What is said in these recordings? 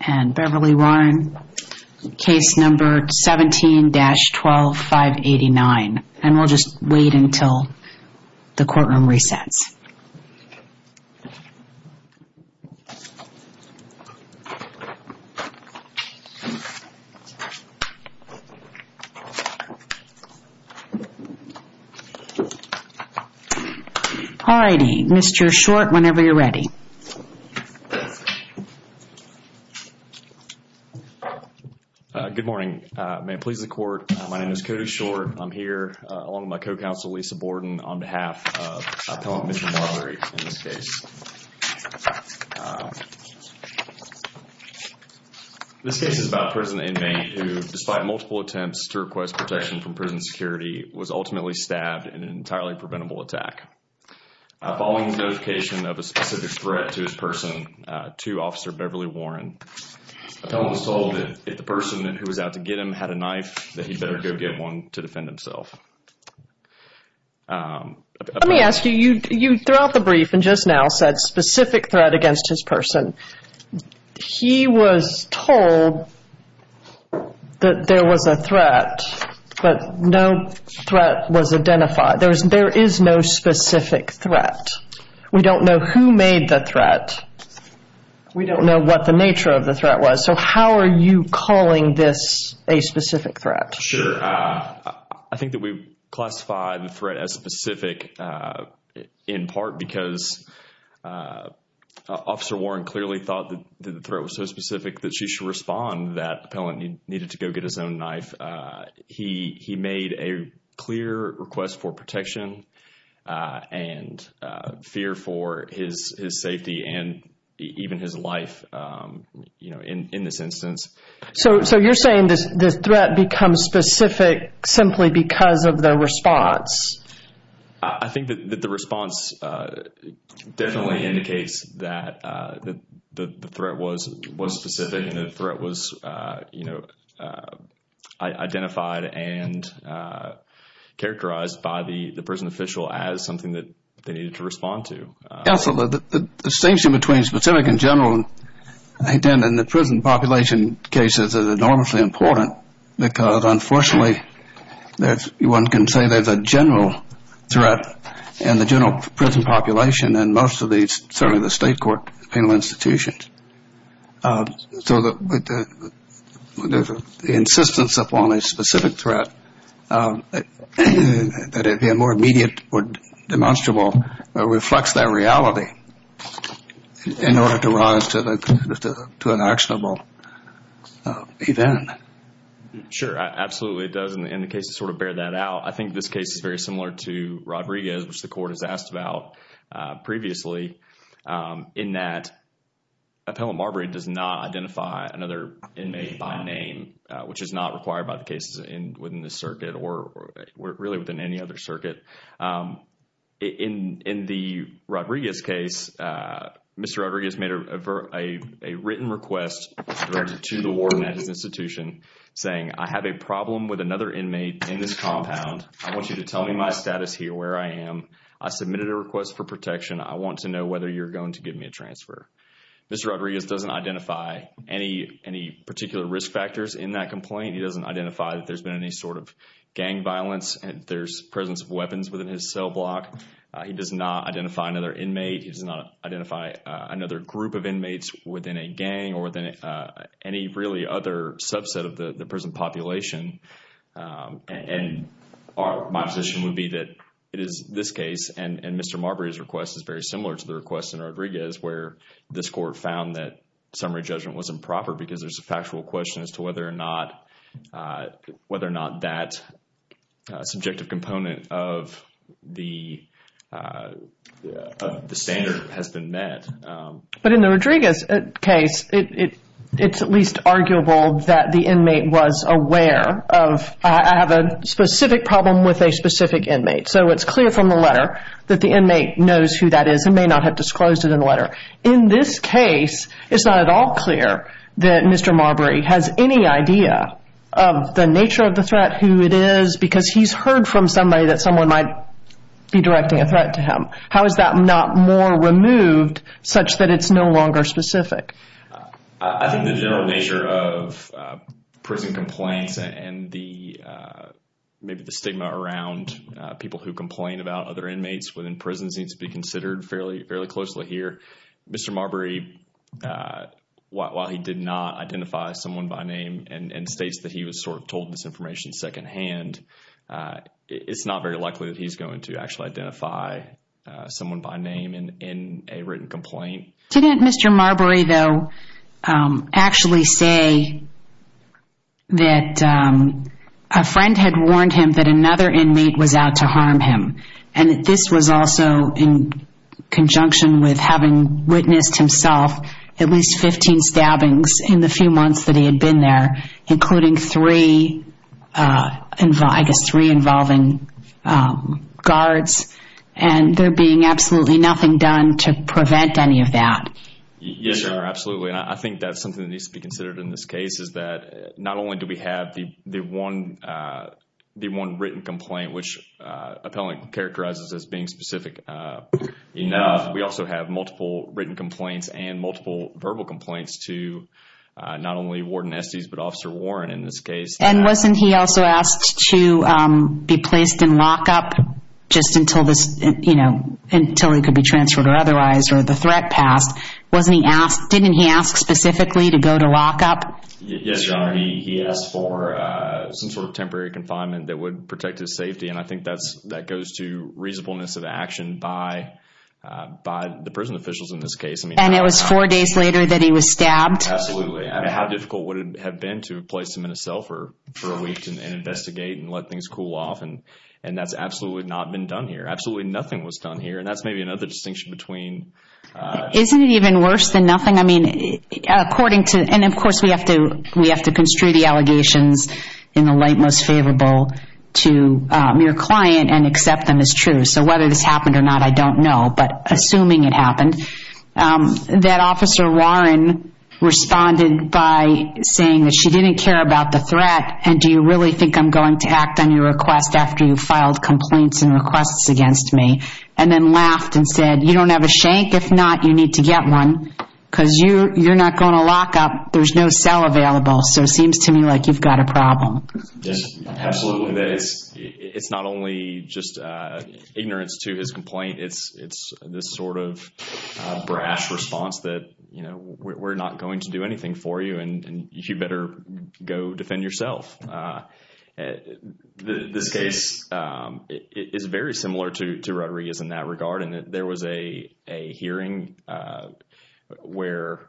and Beverly Warren case number 17-12589 and we'll just wait until the courtroom Good morning. May it please the court, my name is Cody Short. I'm here along with my co-counsel Lisa Borden on behalf of Appellant Mr. Marbury in this case. This case is about a prison inmate who, despite multiple attempts to request protection from prison security, was ultimately stabbed in an entirely preventable attack. Following the notification of a specific threat to his person to Officer Beverly Warren, Appellant was told that if the person who was out to get him had a knife that he better go get one to defend himself. Let me ask you, you throughout the brief and just now said specific threat against his person. He was told that there was a threat but no threat was identified. There is no specific threat. We don't know who made the threat. We don't know what the nature of the threat was. So, how are you calling this a specific threat? Sure, I think that we classify the threat as specific in part because Officer Warren clearly thought that the threat was so specific that she should respond that Appellant needed to go get his own knife. He made a clear request for protection and fear for his safety and even his life in this instance. So, you're saying this threat becomes specific simply because of the response? I think that the response definitely indicates that the threat was specific and the threat was identified and characterized by the prison official as something that they needed to respond to. Absolutely, the distinction between specific and general and the prison population cases is enormously important because unfortunately there's one can say there's a general threat in the general prison population and most of these certainly the state court penal institutions. So, the insistence upon a specific threat that it be a more immediate or demonstrable reflects that reality in order to run us to an actionable event. Sure, absolutely it does in the case to sort of bear that out. I think this case is very similar to Rodriguez which the court has asked about previously in that Appellant Marbury does not identify another inmate by name which is not required by the cases within this circuit or really within any other circuit. In the Rodriguez case, Mr. Rodriguez made a written request to the warden at his institution saying I have a problem with another inmate in this compound. I want you to tell me my status here where I am. I submitted a request for protection. I want to know whether you're going to give me a transfer. Mr. Rodriguez doesn't identify any particular risk factors in that there's been any sort of gang violence and there's presence of weapons within his cell block. He does not identify another inmate. He does not identify another group of inmates within a gang or within any really other subset of the prison population. My position would be that it is this case and Mr. Marbury's request is very similar to the request in Rodriguez where this court found that summary judgment was improper because there's a factual question whether or not that subjective component of the standard has been met. But in the Rodriguez case, it's at least arguable that the inmate was aware of I have a specific problem with a specific inmate. So, it's clear from the letter that the inmate knows who that is and may not have disclosed it in the letter. In this case, it's not at all clear that Mr. Marbury has any idea of the nature of the threat, who it is, because he's heard from somebody that someone might be directing a threat to him. How is that not more removed such that it's no longer specific? I think the general nature of prison complaints and maybe the stigma around people who complain about other inmates within prisons needs to be considered fairly closely here. Mr. Marbury, while he did not identify someone by name and states that he was sort of told this information secondhand, it's not very likely that he's going to actually identify someone by name in a written complaint. Didn't Mr. Marbury, though, actually say that a friend had warned him that another inmate was out to harm him and this was also in conjunction with having witnessed himself at least 15 stabbings in the few months that he had been there, including three, I guess, three involving guards and there being absolutely nothing done to prevent any of that. Yes, absolutely. I think that's something that needs to be considered in this case is that not only do we have the one written complaint, which appellant characterizes as being specific enough, we also have multiple written complaints and multiple verbal complaints to not only Warden Estes but Officer Warren in this case. And wasn't he also asked to be placed in lockup just until he could be transferred or otherwise or the threat passed? Didn't he ask specifically to go to lockup? Yes, Your Honor. He asked for some sort of temporary confinement that would protect his safety and I think that goes to reasonableness of action by the prison officials in this case. And it was four days later that he was stabbed? Absolutely. How difficult would it have been to place him in a cell for a week and investigate and let things cool off? And that's absolutely not been done here. Absolutely nothing was done here and that's maybe another distinction between... Isn't it even worse than nothing? I mean, according to... And of course, we have to construe the allegations in the light most favorable to your client and accept them as true. So whether this happened or not, I don't know. But assuming it happened, that Officer Warren responded by saying that she didn't care about the threat and do you really think I'm going to act on your request after you filed complaints and requests against me? And then laughed and said, you don't have a shank? If not, you need to get one because you're not going to lock up. There's no cell available. So it seems to me like you've got a problem. Yes, absolutely. It's not only just ignorance to his complaint. It's this sort of brash response that, you know, we're not going to do anything for you and you better go defend yourself. This case is very similar to Rodriguez in that regard and there was a hearing where...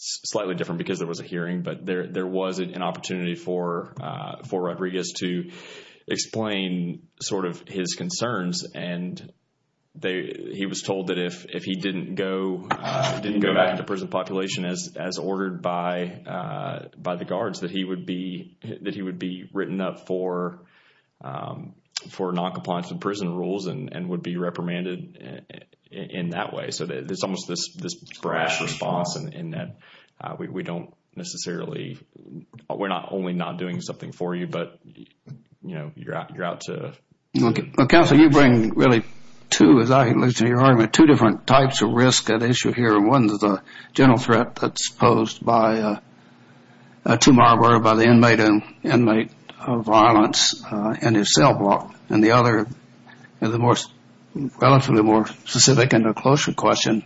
Slightly different because there was a hearing, but there was an opportunity for Rodriguez to explain sort of his concerns. And he was told that if he didn't go back into prison population as ordered by the guards, that he would be written up for noncompliance with prison rules and would be reprimanded in that way. So there's almost this brash response in that we don't necessarily... We're not only not doing something for you, but, you know, you're out to... Counselor, you bring really two, as I understand your argument, two different types of risk at issue here. One is the general threat that's posed by Tumar, by the inmate of violence in his cell block. And the other is a relatively more specific and closer question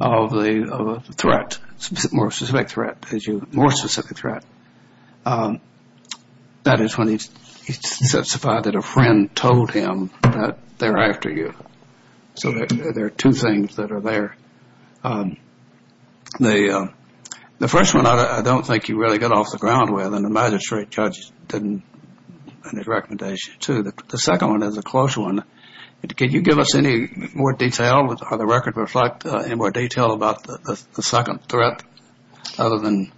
of the threat, more specific threat. That is when he testified that a friend told him that they're after you. So there are two things that are there. The first one, I don't think you really got off the ground with, and the magistrate judge didn't in his recommendation, too. The second one is a close one. Can you give us any more detail? Would the record reflect any more detail about the second threat other than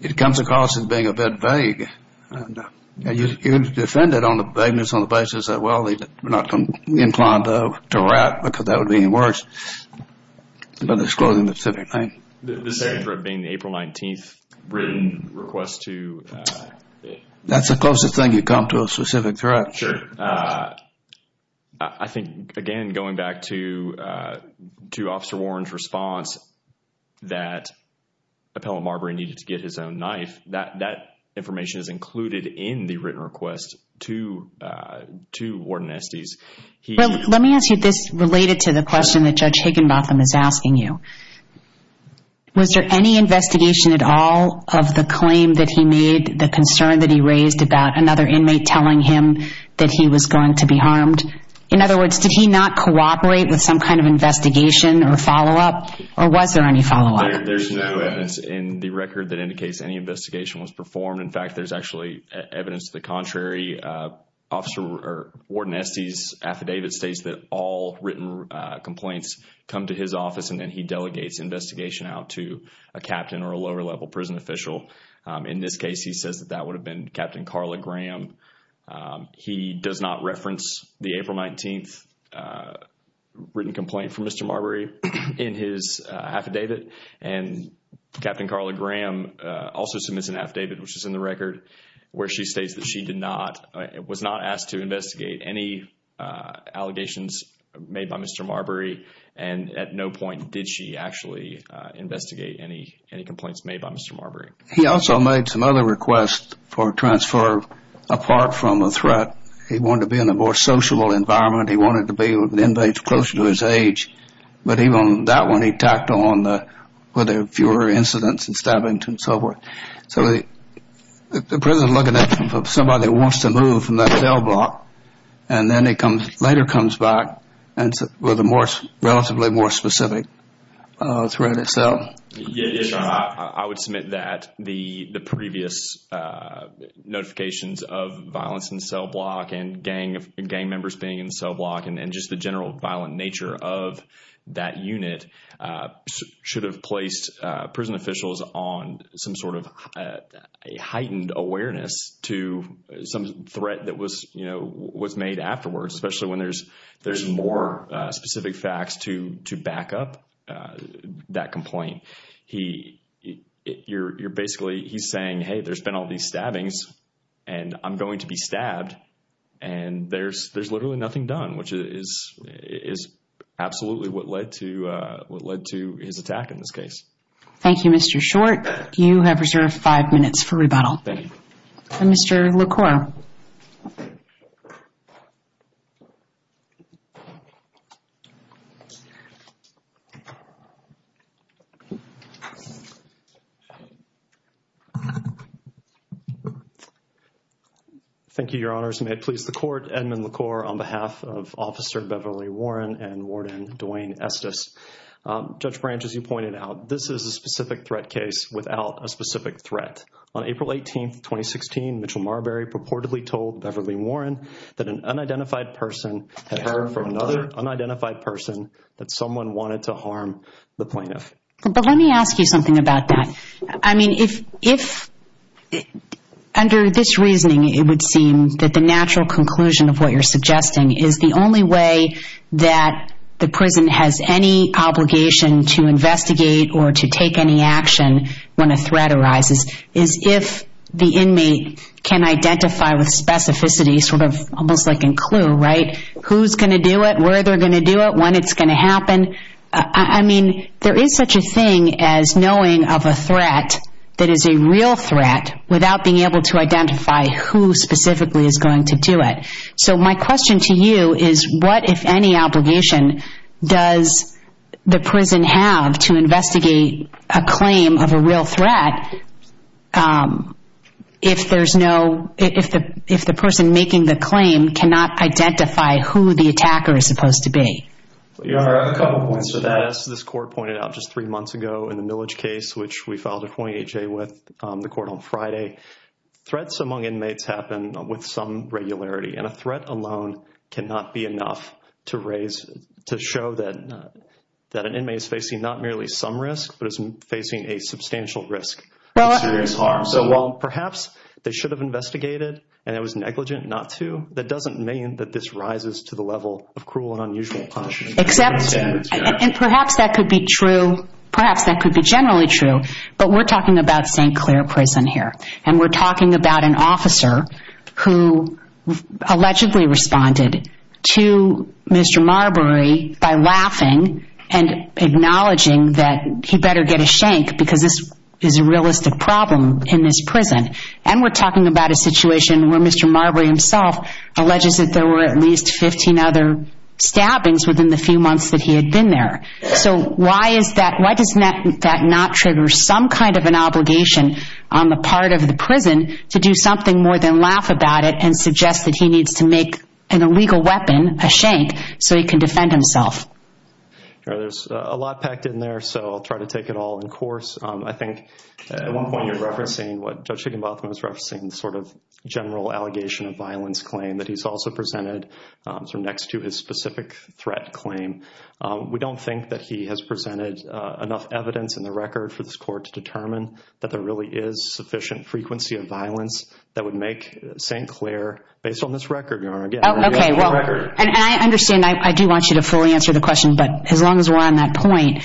it comes across as being a bit vague? You defended on the vagueness on the basis that, well, we're not going to be inclined to wrap because that would be worse, but it's closing the specific thing. The second threat being the April 19th written request to... That's the closest thing you come to a specific threat. Sure. I think, again, going back to Officer Warren's response that Appellant Marbury needed to get his own knife, that information is included in the written request to Warden Estes. Let me ask you this related to the question that Judge Higginbotham is asking you. Was there any investigation at all of the claim that he made, the concern that he raised about another inmate telling him that he was going to be harmed? In other words, did he not cooperate with some kind of investigation or follow-up, or was there any follow-up? There's no evidence in the record that indicates any investigation was performed. In fact, there's evidence to the contrary. Warden Estes' affidavit states that all written complaints come to his office and then he delegates investigation out to a captain or a lower-level prison official. In this case, he says that that would have been Captain Carla Graham. He does not reference the April 19th written complaint from Mr. Marbury in his affidavit. Captain Carla Graham also submits an affidavit, which is in the record, where she states that she was not asked to investigate any allegations made by Mr. Marbury and at no point did she actually investigate any complaints made by Mr. Marbury. He also made some other requests for transfer apart from a threat. He wanted to be in a more sociable environment. He wanted to be with inmates closer to his age, but even on that one, he tacked on whether fewer incidents and stabbings and so forth. So, the prison is looking at somebody that wants to move from that cell block and then he comes later comes back with a more relatively more specific threat itself. I would submit that the previous notifications of violence in cell block and gang members being in that unit should have placed prison officials on some sort of heightened awareness to some threat that was made afterwards, especially when there's more specific facts to back up that complaint. He's saying, hey, there's been all these stabbings and I'm going to be stabbed and there's literally nothing done, which is absolutely what led to his attack in this case. Thank you, Mr. Short. You have reserved five minutes for rebuttal. Mr. LaCour. Thank you, Your Honors. May it please the Court, Edmund LaCour on behalf of Officer Beverly Warren and Warden Duane Estes. Judge Branch, as you pointed out, this is a specific threat case without a specific threat. On April 18, 2016, Mitchell Marbury purportedly told Beverly Warren that an unidentified person had heard from another unidentified person that someone wanted to harm the plaintiff. But let me ask you something about that. I mean, if under this reasoning, it would seem that the natural conclusion of what you're suggesting is the only way that the prison has any obligation to investigate or to take any action when a threat arises is if the inmate can identify with specificity, almost like a clue, who's going to do it, where they're going to do it, when it's going to happen. I mean, there is such a thing as knowing of a threat that is a real threat without being able to identify who specifically is going to do it. So my question to you is, what, if any, obligation does the prison have to investigate a claim of a real threat if the person making the claim cannot identify who the attacker is supposed to be? Your Honor, a couple of points to that. As this Court pointed out just three months ago in the Millage case, which we filed a 28-J with the Court on Friday, threats among inmates happen with some regularity. And a threat alone cannot be enough to show that an inmate is facing not merely some risk, but is facing a substantial risk of serious harm. So while perhaps they should have investigated and it was negligent not to, that doesn't mean that this rises to the level of cruel and unusual punishment. Except, and perhaps that could be true, perhaps that could be generally true, but we're talking about St. Clair Prison here. And we're talking about an inmate who allegedly responded to Mr. Marbury by laughing and acknowledging that he better get a shank because this is a realistic problem in this prison. And we're talking about a situation where Mr. Marbury himself alleges that there were at least 15 other stabbings within the few months that he had been there. So why is that, why does that not trigger some kind of an obligation on the part of the prison to do something more than laugh about it and suggest that he needs to make an illegal weapon, a shank, so he can defend himself? There's a lot packed in there so I'll try to take it all in course. I think at one point you're referencing what Judge Higginbotham was referencing, the sort of general allegation of violence claim that he's also presented next to his specific threat claim. We don't think that he has presented enough evidence in the sufficient frequency of violence that would make St. Clair based on this record, Your Honor. And I understand, I do want you to fully answer the question, but as long as we're on that point,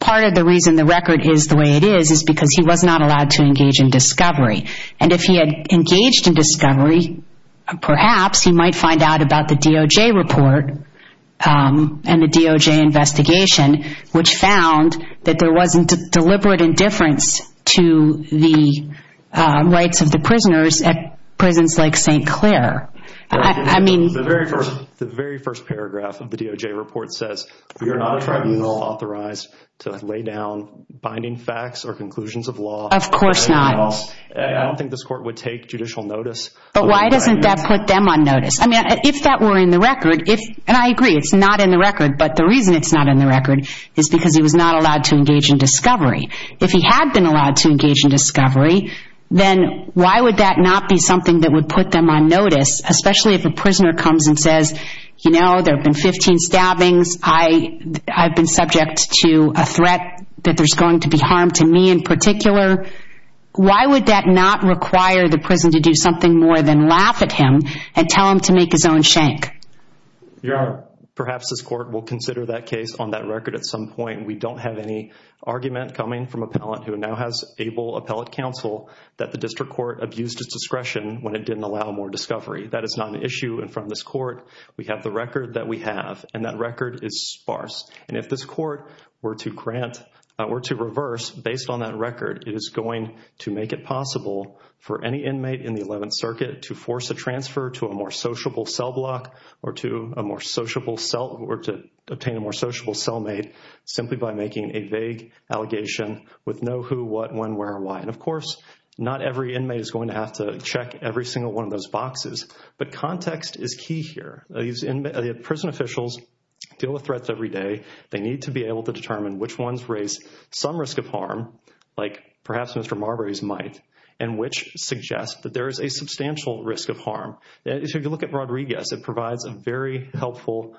part of the reason the record is the way it is is because he was not allowed to engage in discovery. And if he had engaged in discovery, perhaps he might find out about the DOJ report and the DOJ investigation, which found that there wasn't a deliberate indifference to the rights of the prisoners at prisons like St. Clair. I mean... The very first paragraph of the DOJ report says, we are not a tribunal authorized to lay down binding facts or conclusions of law. Of course not. I don't think this court would take judicial notice. But why doesn't that put them on notice? I mean, if that were in the record, and I agree, it's not in the record, but the reason it's not in the record is because he was not allowed to engage in discovery. If he had been allowed to engage in discovery, then why would that not be something that would put them on notice, especially if a prisoner comes and says, you know, there have been 15 stabbings. I've been subject to a threat that there's going to be harm to me in particular. Why would that not require the prison to do something more than laugh at him and tell him to make his own shank? Perhaps this court will consider that case on that record at some point. We don't have any argument coming from appellant who now has able appellate counsel that the district court abused his discretion when it didn't allow more discovery. That is not an issue in front of this court. We have the record that we have, and that record is sparse. And if this court were to grant, were to reverse based on that record, it is going to make it possible for any inmate in the 11th Circuit to force a transfer to a more sociable cell block or to a more sociable cell or to obtain a more sociable cellmate simply by making a vague allegation with no who, what, when, where, why. And of course, not every inmate is going to have to check every single one of those boxes, but context is key here. These prison officials deal with threats every day. They need to be able to determine which ones raise some risk of harm, like perhaps Mr. Marbury's might, and which suggest that there is a substantial risk of harm. If you look at Rodriguez, it provides a very helpful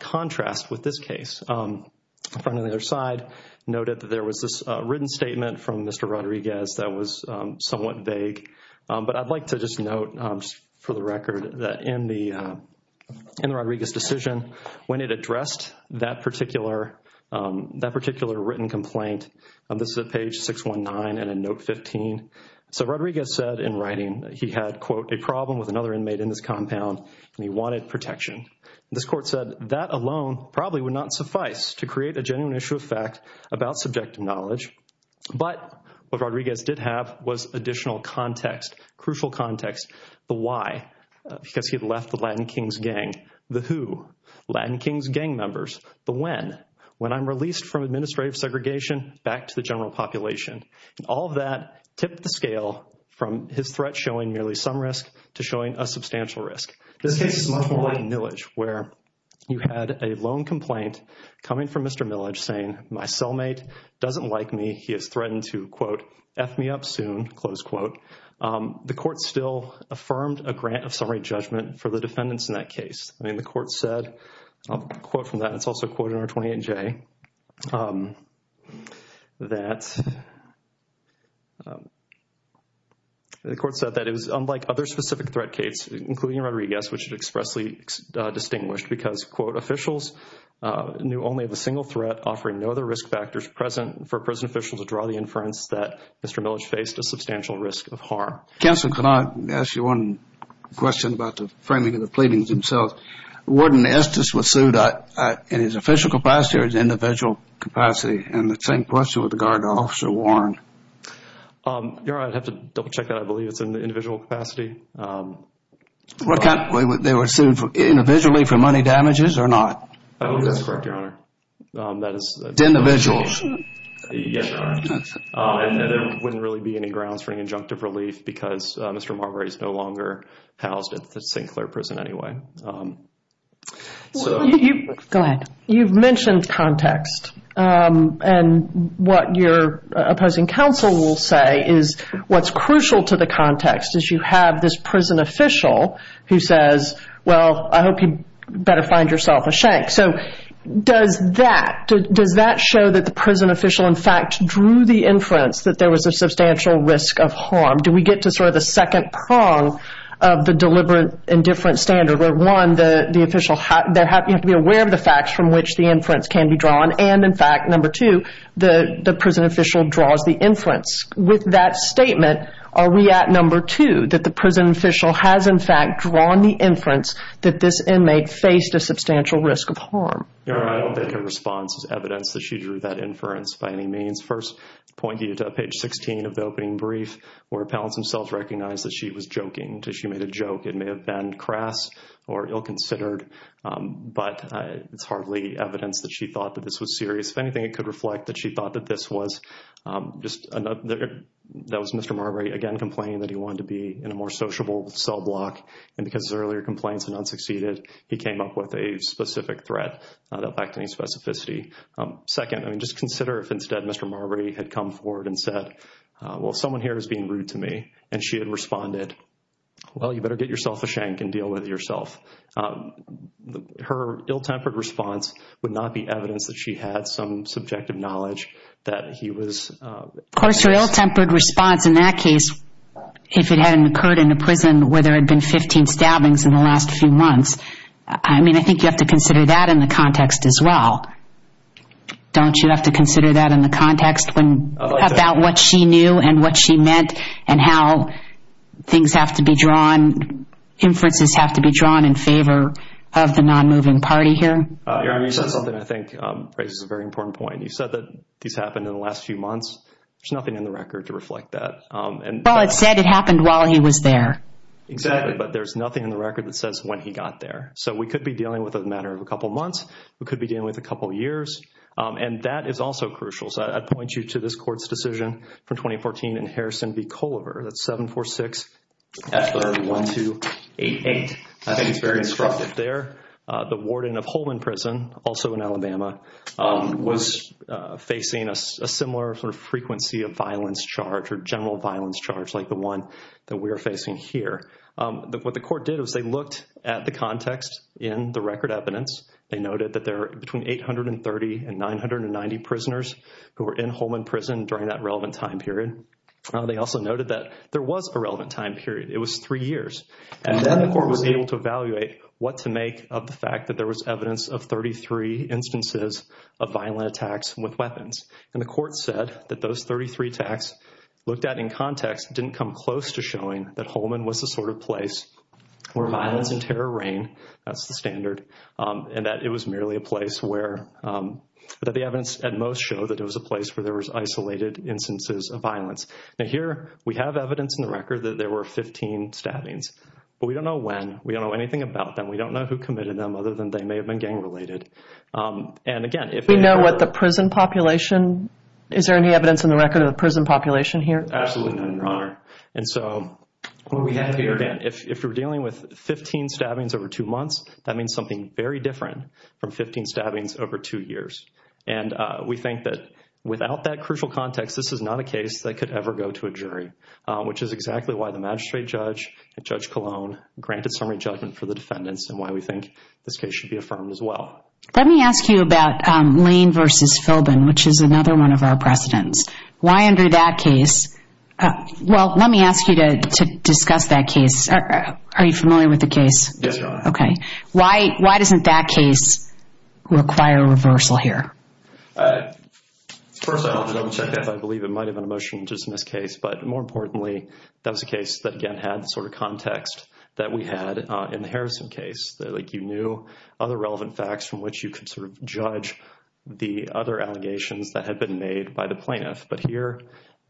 contrast with this case. The friend on the other side noted that there was this written statement from Mr. Rodriguez that was somewhat vague, but I'd like to just note just for the record that in the Rodriguez decision, when it addressed that particular written complaint, this is at page 619 and in note 15, so Rodriguez said in writing that he had, quote, a problem with another inmate in this compound and he wanted protection. This court said that alone probably would not suffice to create a genuine issue of fact about subjective knowledge, but what Rodriguez did have was additional context, crucial context. The why, because he had left the Latin Kings gang. The who, Latin Kings gang members. The when, when I'm released from administrative segregation back to the general population. All of that tipped the scale from his threat showing merely some risk to showing a substantial risk. This case is much more like Millage, where you had a lone complaint coming from Mr. Millage saying, my cellmate doesn't like me. He has threatened to, quote, F me up soon, close quote. The court still affirmed a grant of summary judgment for the defendants in that case. I mean, the court said, I'll quote from that, it's also quoted in our 28J, that the court said that it was unlike other specific threat case, including Rodriguez, which is expressly distinguished because, quote, officials knew only of a single threat offering no other risk factors present for prison officials to draw the inference that Mr. Millage faced a substantial risk of harm. Counselor, can I ask you one question about the framing of the pleadings themselves? Wouldn't Estes be sued in his official capacity or his individual capacity? And the same question with regard to Officer Warren. Your Honor, I'd have to double check that. I believe it's in the individual capacity. They were sued individually for money damages or not? I believe that's correct, Your Honor. Individuals? Yes, Your Honor. There wouldn't really be any grounds for any injunctive relief because Mr. Marbury is no longer housed at the St. Clair prison anyway. Go ahead. You've mentioned context and what your opposing counsel will say is what's crucial to the context is you have this prison official who says, well, I hope you better find yourself a shank. So does that show that the prison official, in fact, drew the inference that there was a substantial risk of harm? Do we get to sort of the second prong of the deliberate indifference standard where, one, you have to be aware of the facts from which the inference can be drawn and, in fact, number two, the prison official draws the inference. With that statement, are we at number two that the prison official has, in fact, drawn the inference that this inmate faced a substantial risk of harm? Your Honor, I don't think her response is evidence that she drew that inference by any means. First, point you to page 16 of the opening brief where appellants themselves recognized that she was joking. She made a joke. It may have been crass or ill-considered, but it's hardly evidence that she thought that this was just another. That was Mr. Marbury, again, complaining that he wanted to be in a more sociable cell block, and because his earlier complaints had not succeeded, he came up with a specific threat that lacked any specificity. Second, I mean, just consider if instead Mr. Marbury had come forward and said, well, someone here is being rude to me, and she had responded, well, you better get yourself a shank and deal with it yourself. Her ill-tempered response would not be evidence that she had some subjective knowledge that he was... Of course, her ill-tempered response in that case, if it hadn't occurred in the prison where there had been 15 stabbings in the last few months, I mean, I think you have to consider that in the context as well. Don't you have to consider that in the context about what she knew and what she meant and how things have to be drawn, inferences have to be drawn in favor of the non-moving party here? Erin, you said something I think raises a very important point. You said that these happened in the last few months. There's nothing in the record to reflect that. Well, it said it happened while he was there. Exactly, but there's nothing in the record that says when he got there. So we could be dealing with a matter of a couple of months. We could be dealing with a couple of years, and that is also crucial. So I'd point you to this court's decision from 2014 in Harrison v. Holman Prison, also in Alabama, was facing a similar sort of frequency of violence charge or general violence charge like the one that we are facing here. What the court did was they looked at the context in the record evidence. They noted that there are between 830 and 990 prisoners who were in Holman Prison during that relevant time period. They also noted that there was a relevant time period. It was three years, and then the court was able to evaluate what to 33 instances of violent attacks with weapons, and the court said that those 33 attacks looked at in context didn't come close to showing that Holman was the sort of place where violence and terror reign. That's the standard, and that it was merely a place where the evidence at most showed that it was a place where there was isolated instances of violence. Now, here we have evidence in the record that there were 15 stabbings, but we don't know when. We don't know anything about them. We don't know who committed them other than they may have been gang-related, and again, if we know what the prison population, is there any evidence in the record of the prison population here? Absolutely not, Your Honor, and so what we have here, Dan, if we're dealing with 15 stabbings over two months, that means something very different from 15 stabbings over two years, and we think that without that crucial context, this is not a case that could ever go to a jury, which is exactly why the magistrate judge and Judge Colon granted summary judgment for the defendants and why we think this case should be affirmed as well. Let me ask you about Lane v. Philbin, which is another one of our precedents. Why under that case, well, let me ask you to discuss that case. Are you familiar with the case? Yes, Your Honor. Okay. Why doesn't that case require a reversal here? First, I want to double-check that. I believe it might have been a motion-to-dismiss case, but more importantly, that was a case that, again, had the sort of context that we had in the Harrison case. You knew other relevant facts from which you could sort of judge the other allegations that had been made by the plaintiff, but here,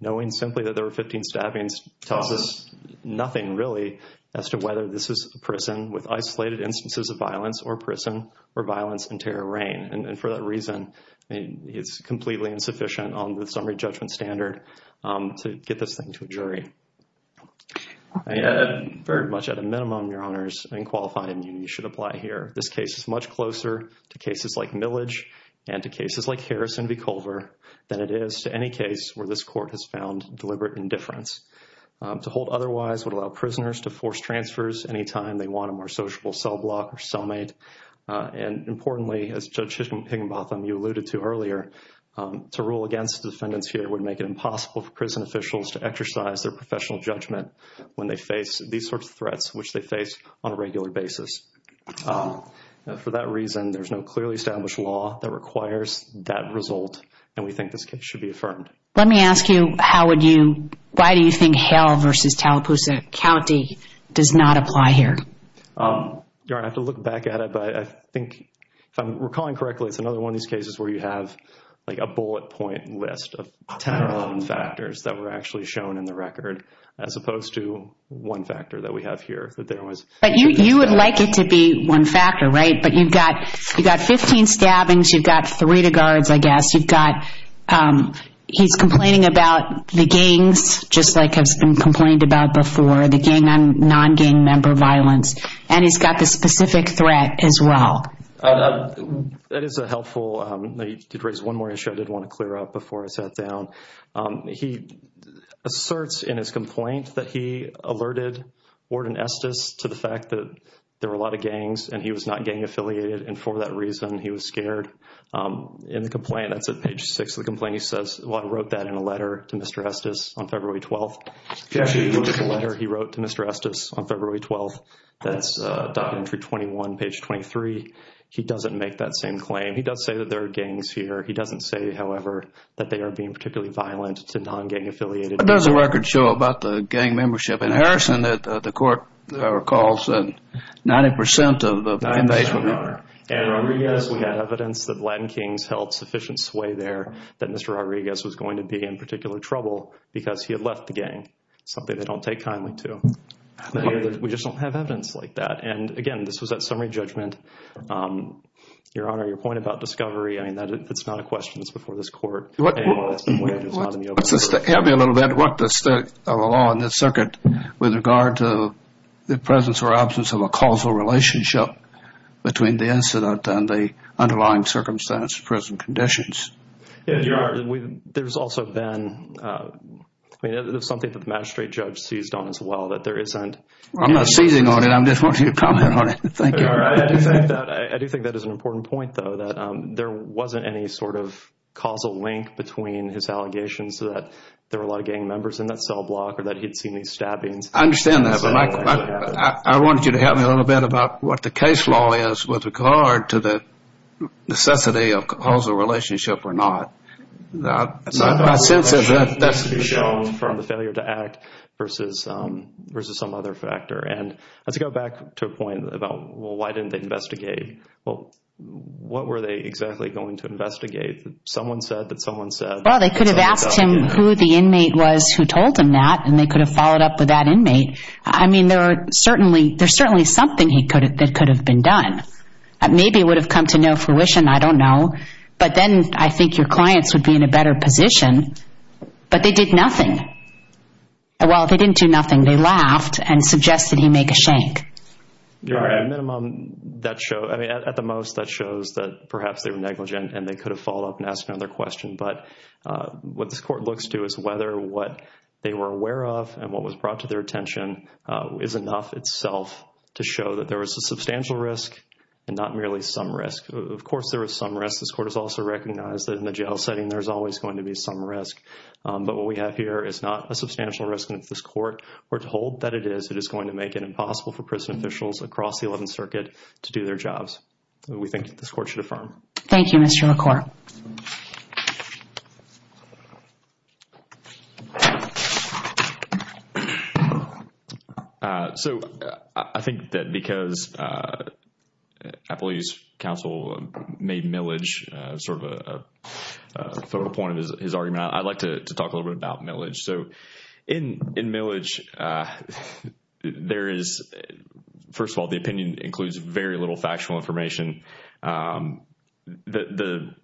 knowing simply that there were 15 stabbings tells us nothing, really, as to whether this is a prison with isolated instances of violence or prison or violence and terror reign, and for that reason, I mean, it's completely insufficient on the summary judgment standard to get this thing to a jury. I am very much at a minimum, Your Honors, in qualifying you should apply here. This case is much closer to cases like Millage and to cases like Harrison v. Culver than it is to any case where this Court has found deliberate indifference. To hold otherwise would allow prisoners to force transfers anytime they want a more sociable cell block or cellmate, and importantly, as Judge Higginbotham, you alluded to earlier, to rule against defendants here would make it impossible for prison officials to exercise their professional judgment when they face these sorts of threats, which they face on a regular basis. For that reason, there's no clearly established law that requires that result, and we think this case should be affirmed. Let me ask you, why do you think Hale v. Tallapoosa County does not apply here? Your Honor, I have to look back at it, but I think, if I'm recalling correctly, it's another one of these cases where you have like a bullet point list of 10 or 11 factors that were actually shown in the record, as opposed to one factor that we have here. But you would like it to be one factor, right? But you've got 15 stabbings, you've got three to guards, I guess, you've got he's complaining about the gangs, just like has been complained about before, non-gang member violence, and he's got the specific threat as well. That is a helpful, you did raise one more issue I did want to clear up before I sat down. He asserts in his complaint that he alerted Warden Estes to the fact that there were a lot of gangs and he was not gang affiliated, and for that reason, he was scared. In the complaint, that's at page six of the complaint, he says, well, I wrote that in a letter to Mr. Estes on February 12th. If you actually look at the letter he wrote to Mr. Estes on February 12th, that's documentary 21, page 23. He doesn't make that same claim. He does say that there are gangs here. He doesn't say, however, that they are being particularly violent to non-gang affiliated. What does the record show about the gang membership in Harrison that the court recalls that 90% of the inmates were gang members? 90% are, and Rodriguez, we had evidence that Latin Kings held sufficient sway there that Mr. Rodriguez was going to be in particular trouble because he had left the gang, something they don't take kindly to. We just don't have evidence like that, and again, this was that summary judgment. Your Honor, your point about discovery, I mean, that's not a question that's before this court. Help me a little bit. What does the law in this circuit with regard to the presence or absence of a causal relationship between the incident and the underlying circumstance, present conditions? Your Honor, there's also been something that the magistrate judge seized on as well. I'm not seizing on it. I'm just wanting to comment on it. Thank you. Your Honor, I do think that is an important point, though, that there wasn't any sort of causal link between his allegations that there were a lot of gang members in that cell block or that he'd seen these stabbings. I understand that, but I wanted you to help me a little bit about what the case law is with regard to the necessity of a causal relationship or not. My sense is that that's to be shown from the failure to act versus some other factor. And let's go back to a point about, well, why didn't they investigate? Well, what were they exactly going to investigate? Someone said that someone said... Well, they could have asked him who the inmate was who told him that, and they could have followed up with that inmate. I mean, there's certainly something that could have been done. Maybe it would have come to no fruition. I don't know. But then I think your clients would be in a better position. But they did nothing. Well, they didn't do nothing. They laughed and suggested he make a shank. Your Honor, at the most, that shows that perhaps they were negligent and they could have followed up and asked another question. But what this Court looks to is whether what they were aware of and what was brought to their attention is enough itself to show that there was a substantial risk and not merely some risk. Of course, there was some risk. This Court has also recognized that in the jail setting, there's always going to be some risk. But what we have here is not a substantial risk. And if this Court were told that it is, it is going to make it impossible for prison officials across the Eleventh Circuit to do their jobs. We think this Court should affirm. Thank you, Mr. LaCour. So, I think that because I believe counsel made Millage sort of a focal point of his argument, I'd like to talk a little bit about Millage. So, in Millage, there is, first of all, the opinion includes very little factual information. There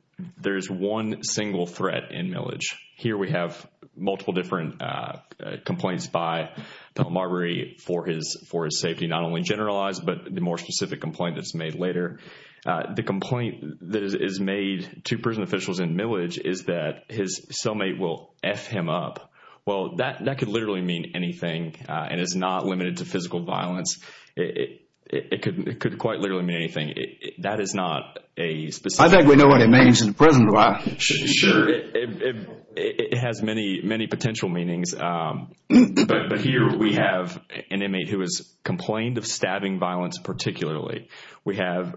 is one single threat in Millage. Here, we have multiple different complaints by Pell Marbury for his safety, not only generalized, but the more specific complaint that's made later. The complaint that is made to prison officials in Millage is that his cellmate will F him up. Well, that could literally mean anything and is not limited to physical violence. It could quite literally mean anything. That is not a I think we know what it means in prison. Sure. It has many, many potential meanings. But here, we have an inmate who has complained of stabbing violence, particularly. We have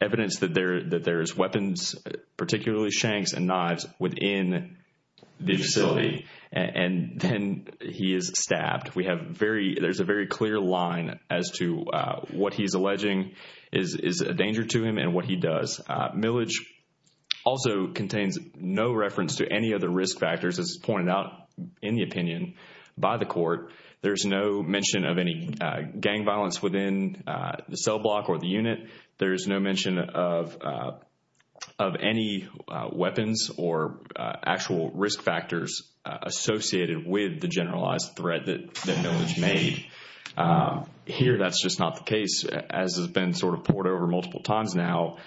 evidence that there's weapons, particularly shanks and knives, within the facility. And then he is stabbed. There's a very clear line as to what he's alleging is a danger to him and what he does. Millage also contains no reference to any other risk factors as pointed out in the opinion by the court. There's no mention of any gang violence within the cell block or the unit. There is no mention of any weapons or actual risk factors associated with the generalized threat that Millage made. Here, that's just not the case. As has been sort of poured over multiple times now,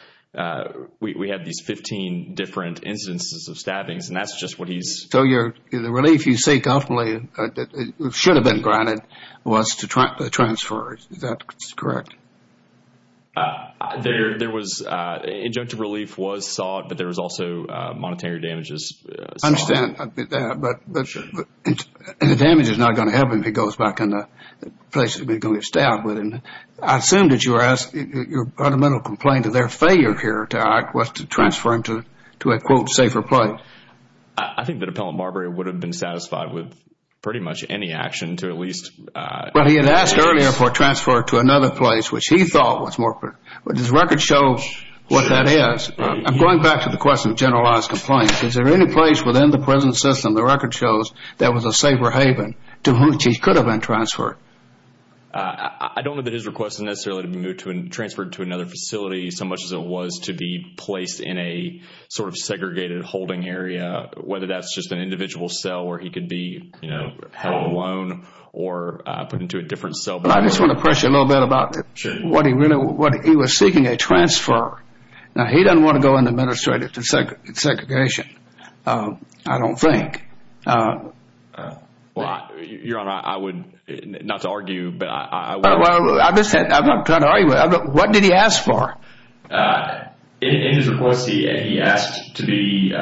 we have these 15 different incidences of stabbings. And that's just what he's... So the relief you seek ultimately should have been granted was to transfer. Is that correct? There was injunctive relief was sought, but there was also monetary damages. I understand that. But the damage is not going to help him. He goes back in the place where he's going to get stabbed. I assume that you're asking your fundamental complaint of their failure here was to transfer him to a, quote, safer place. I think that Appellant Marbury would have been satisfied with pretty much any action to at least... But he had asked earlier for a transfer to another place, which he thought was more... But his record shows what that is. I'm going back to the question of generalized complaints. Is there any place within the prison system, the record shows, that was a safer haven to which he could have been transferred? I don't know that his request is necessarily to be transferred to another facility so much as it was to be placed in a segregated holding area, whether that's just an individual cell where he could be held alone or put into a different cell. But I just want to question a little bit about what he was seeking a transfer. Now, he doesn't want to go into administrative segregation, I don't think. Well, Your Honor, I would, not to argue, but I would... Well, I'm not trying to argue with you. What did he ask for? In his request, he asked to be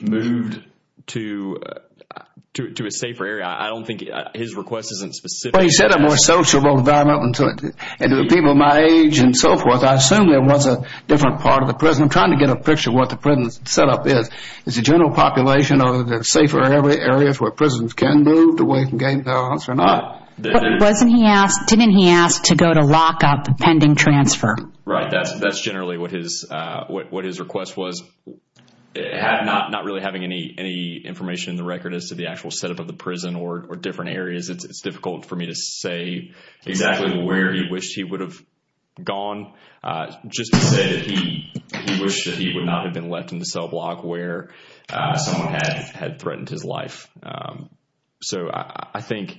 moved to a safer area. I don't think his request isn't specific. But he said a more sociable environment and to people my age and so forth. I assume there was a different part of the prison. I'm trying to get a picture of what the prison setup is. Is the general population of the safer areas where prisons can move to gain balance or not? Didn't he ask to go to lock up pending transfer? Right. That's generally what his request was. Not really having any information in the record as to the actual setup of the prison or different areas, it's difficult for me to say exactly where he wished he would have gone. Just to say that he wished that he would not have been left in the cell block where someone had threatened his life. So I think...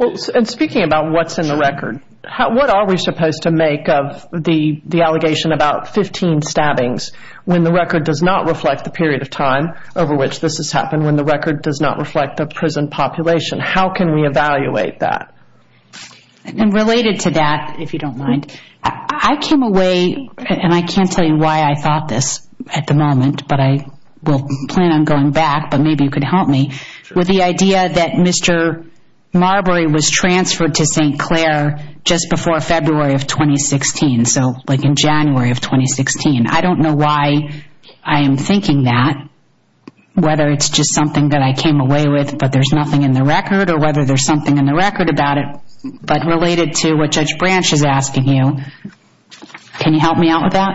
And speaking about what's in the record, what are we supposed to make of the allegation about 15 stabbings when the record does not reflect the period of time over which this has happened, when the record does not reflect the prison population? How can we evaluate that? Related to that, if you don't mind, I came away, and I can't tell you why I thought this at the moment, but I will plan on going back, but maybe you could help me, with the idea that Mr. Marbury was transferred to St. Clair just before February of 2016, so in January of 2016. I don't know why I am thinking that, whether it's just something that I came away with, but there's nothing in the record, or whether there's something in the record about it, but related to what Judge Branch is asking you, can you help me out with that?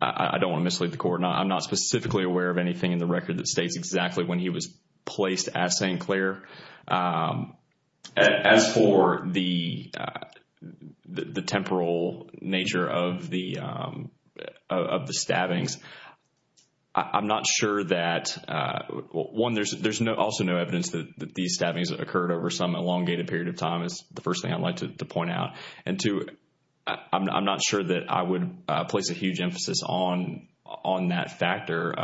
I don't want to mislead the court. I'm not specifically aware of anything in the record that states exactly when he was placed at St. Clair. As for the temporal nature of the stabbings, I'm not sure that... One, there's also no evidence that these stabbings occurred over some elongated period of time, is the first thing I'd like to point out. Two, I'm not sure that I would place a huge emphasis on that factor.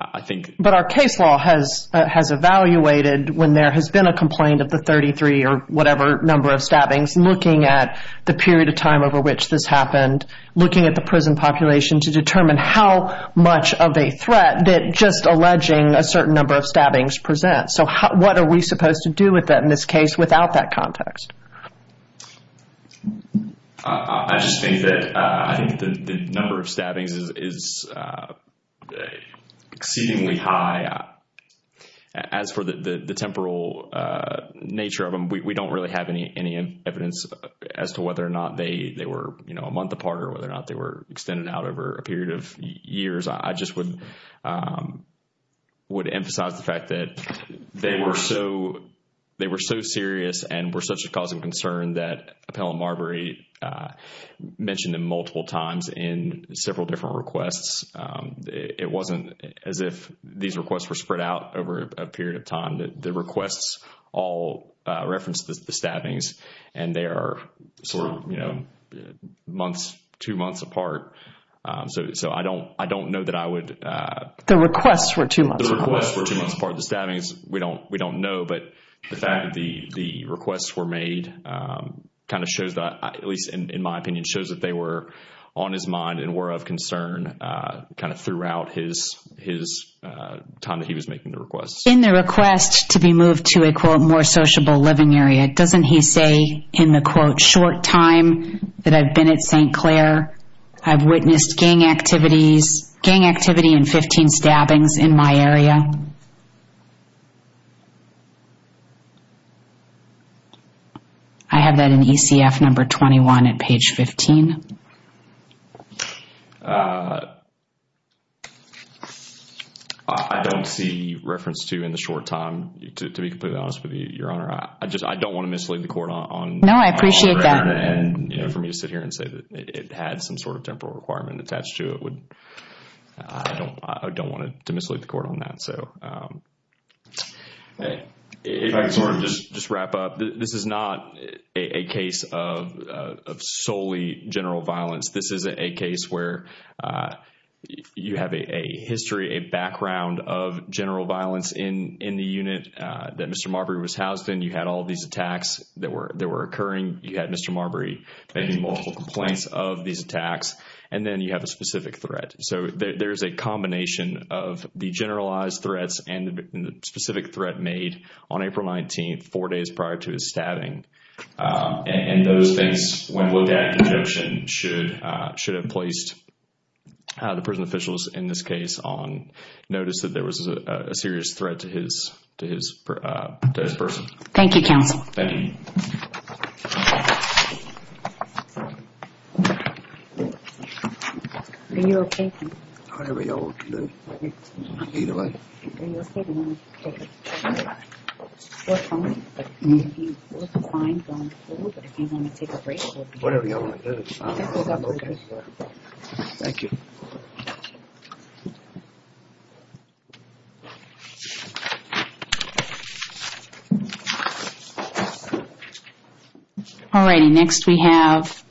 I think... But our case law has evaluated when there has been a complaint of the 33 or whatever number of stabbings, looking at the period of time over which this happened, looking at the prison population to determine how much of a threat that just alleging a certain number of stabbings presents. So what are we supposed to do with that in this case without that context? I just think that the number of stabbings is exceedingly high. As for the temporal nature of them, we don't really have any evidence as to whether or not they were a month apart, or whether or not they were extended out over a period of years. I just would emphasize the fact that they were so serious and were such a cause of concern that Appellant Marbury mentioned them multiple times in several different requests. It wasn't as if these requests were spread out over a period of time. The requests all referenced the stabbings and they are months, two months apart. So I don't know that I would... The requests were two months apart. The requests were two months apart. The stabbings, we don't know. But the fact that the requests were made kind of shows that, at least in my opinion, shows that they were on his mind and were of concern kind of throughout his time that he was making the requests. In the request to be moved to a, quote, more sociable living area, doesn't he say in the, quote, short time that I've been at St. Clair, I've witnessed gang activity and 15 stabbings in my area? I have that in ECF number 21 at page 15. I don't see reference to in the short time, to be completely honest with you, Your Honor. I just, I don't want to mislead the court on... No, I appreciate that. And, you know, for me to sit here and say that it had some sort of temporal requirement attached to it would... I don't want to mislead the court on that. So if I could sort of just wrap up. This is not a case of solely general violence. This is a case where you have a history, a background of general violence in the unit that Mr. Marbury was housed in. You had all these attacks that were occurring. You had Mr. Marbury making multiple complaints of these attacks. And then you have a specific threat. So there's a combination of the generalized threats and the specific threat made on April 19th, four days prior to his stabbing. And those things, when looked at in conjunction, should have placed the prison officials in this case on notice that there was a serious threat to his person. Thank you, counsel. Thank you. Are you okay, sir? Whatever y'all want to do. Either way. Are you okay? Do you want to take a short break? You look fine going forward, but if you want to take a break... Whatever y'all want to do. I'm okay. Thank you. Thank you. All righty, next we have...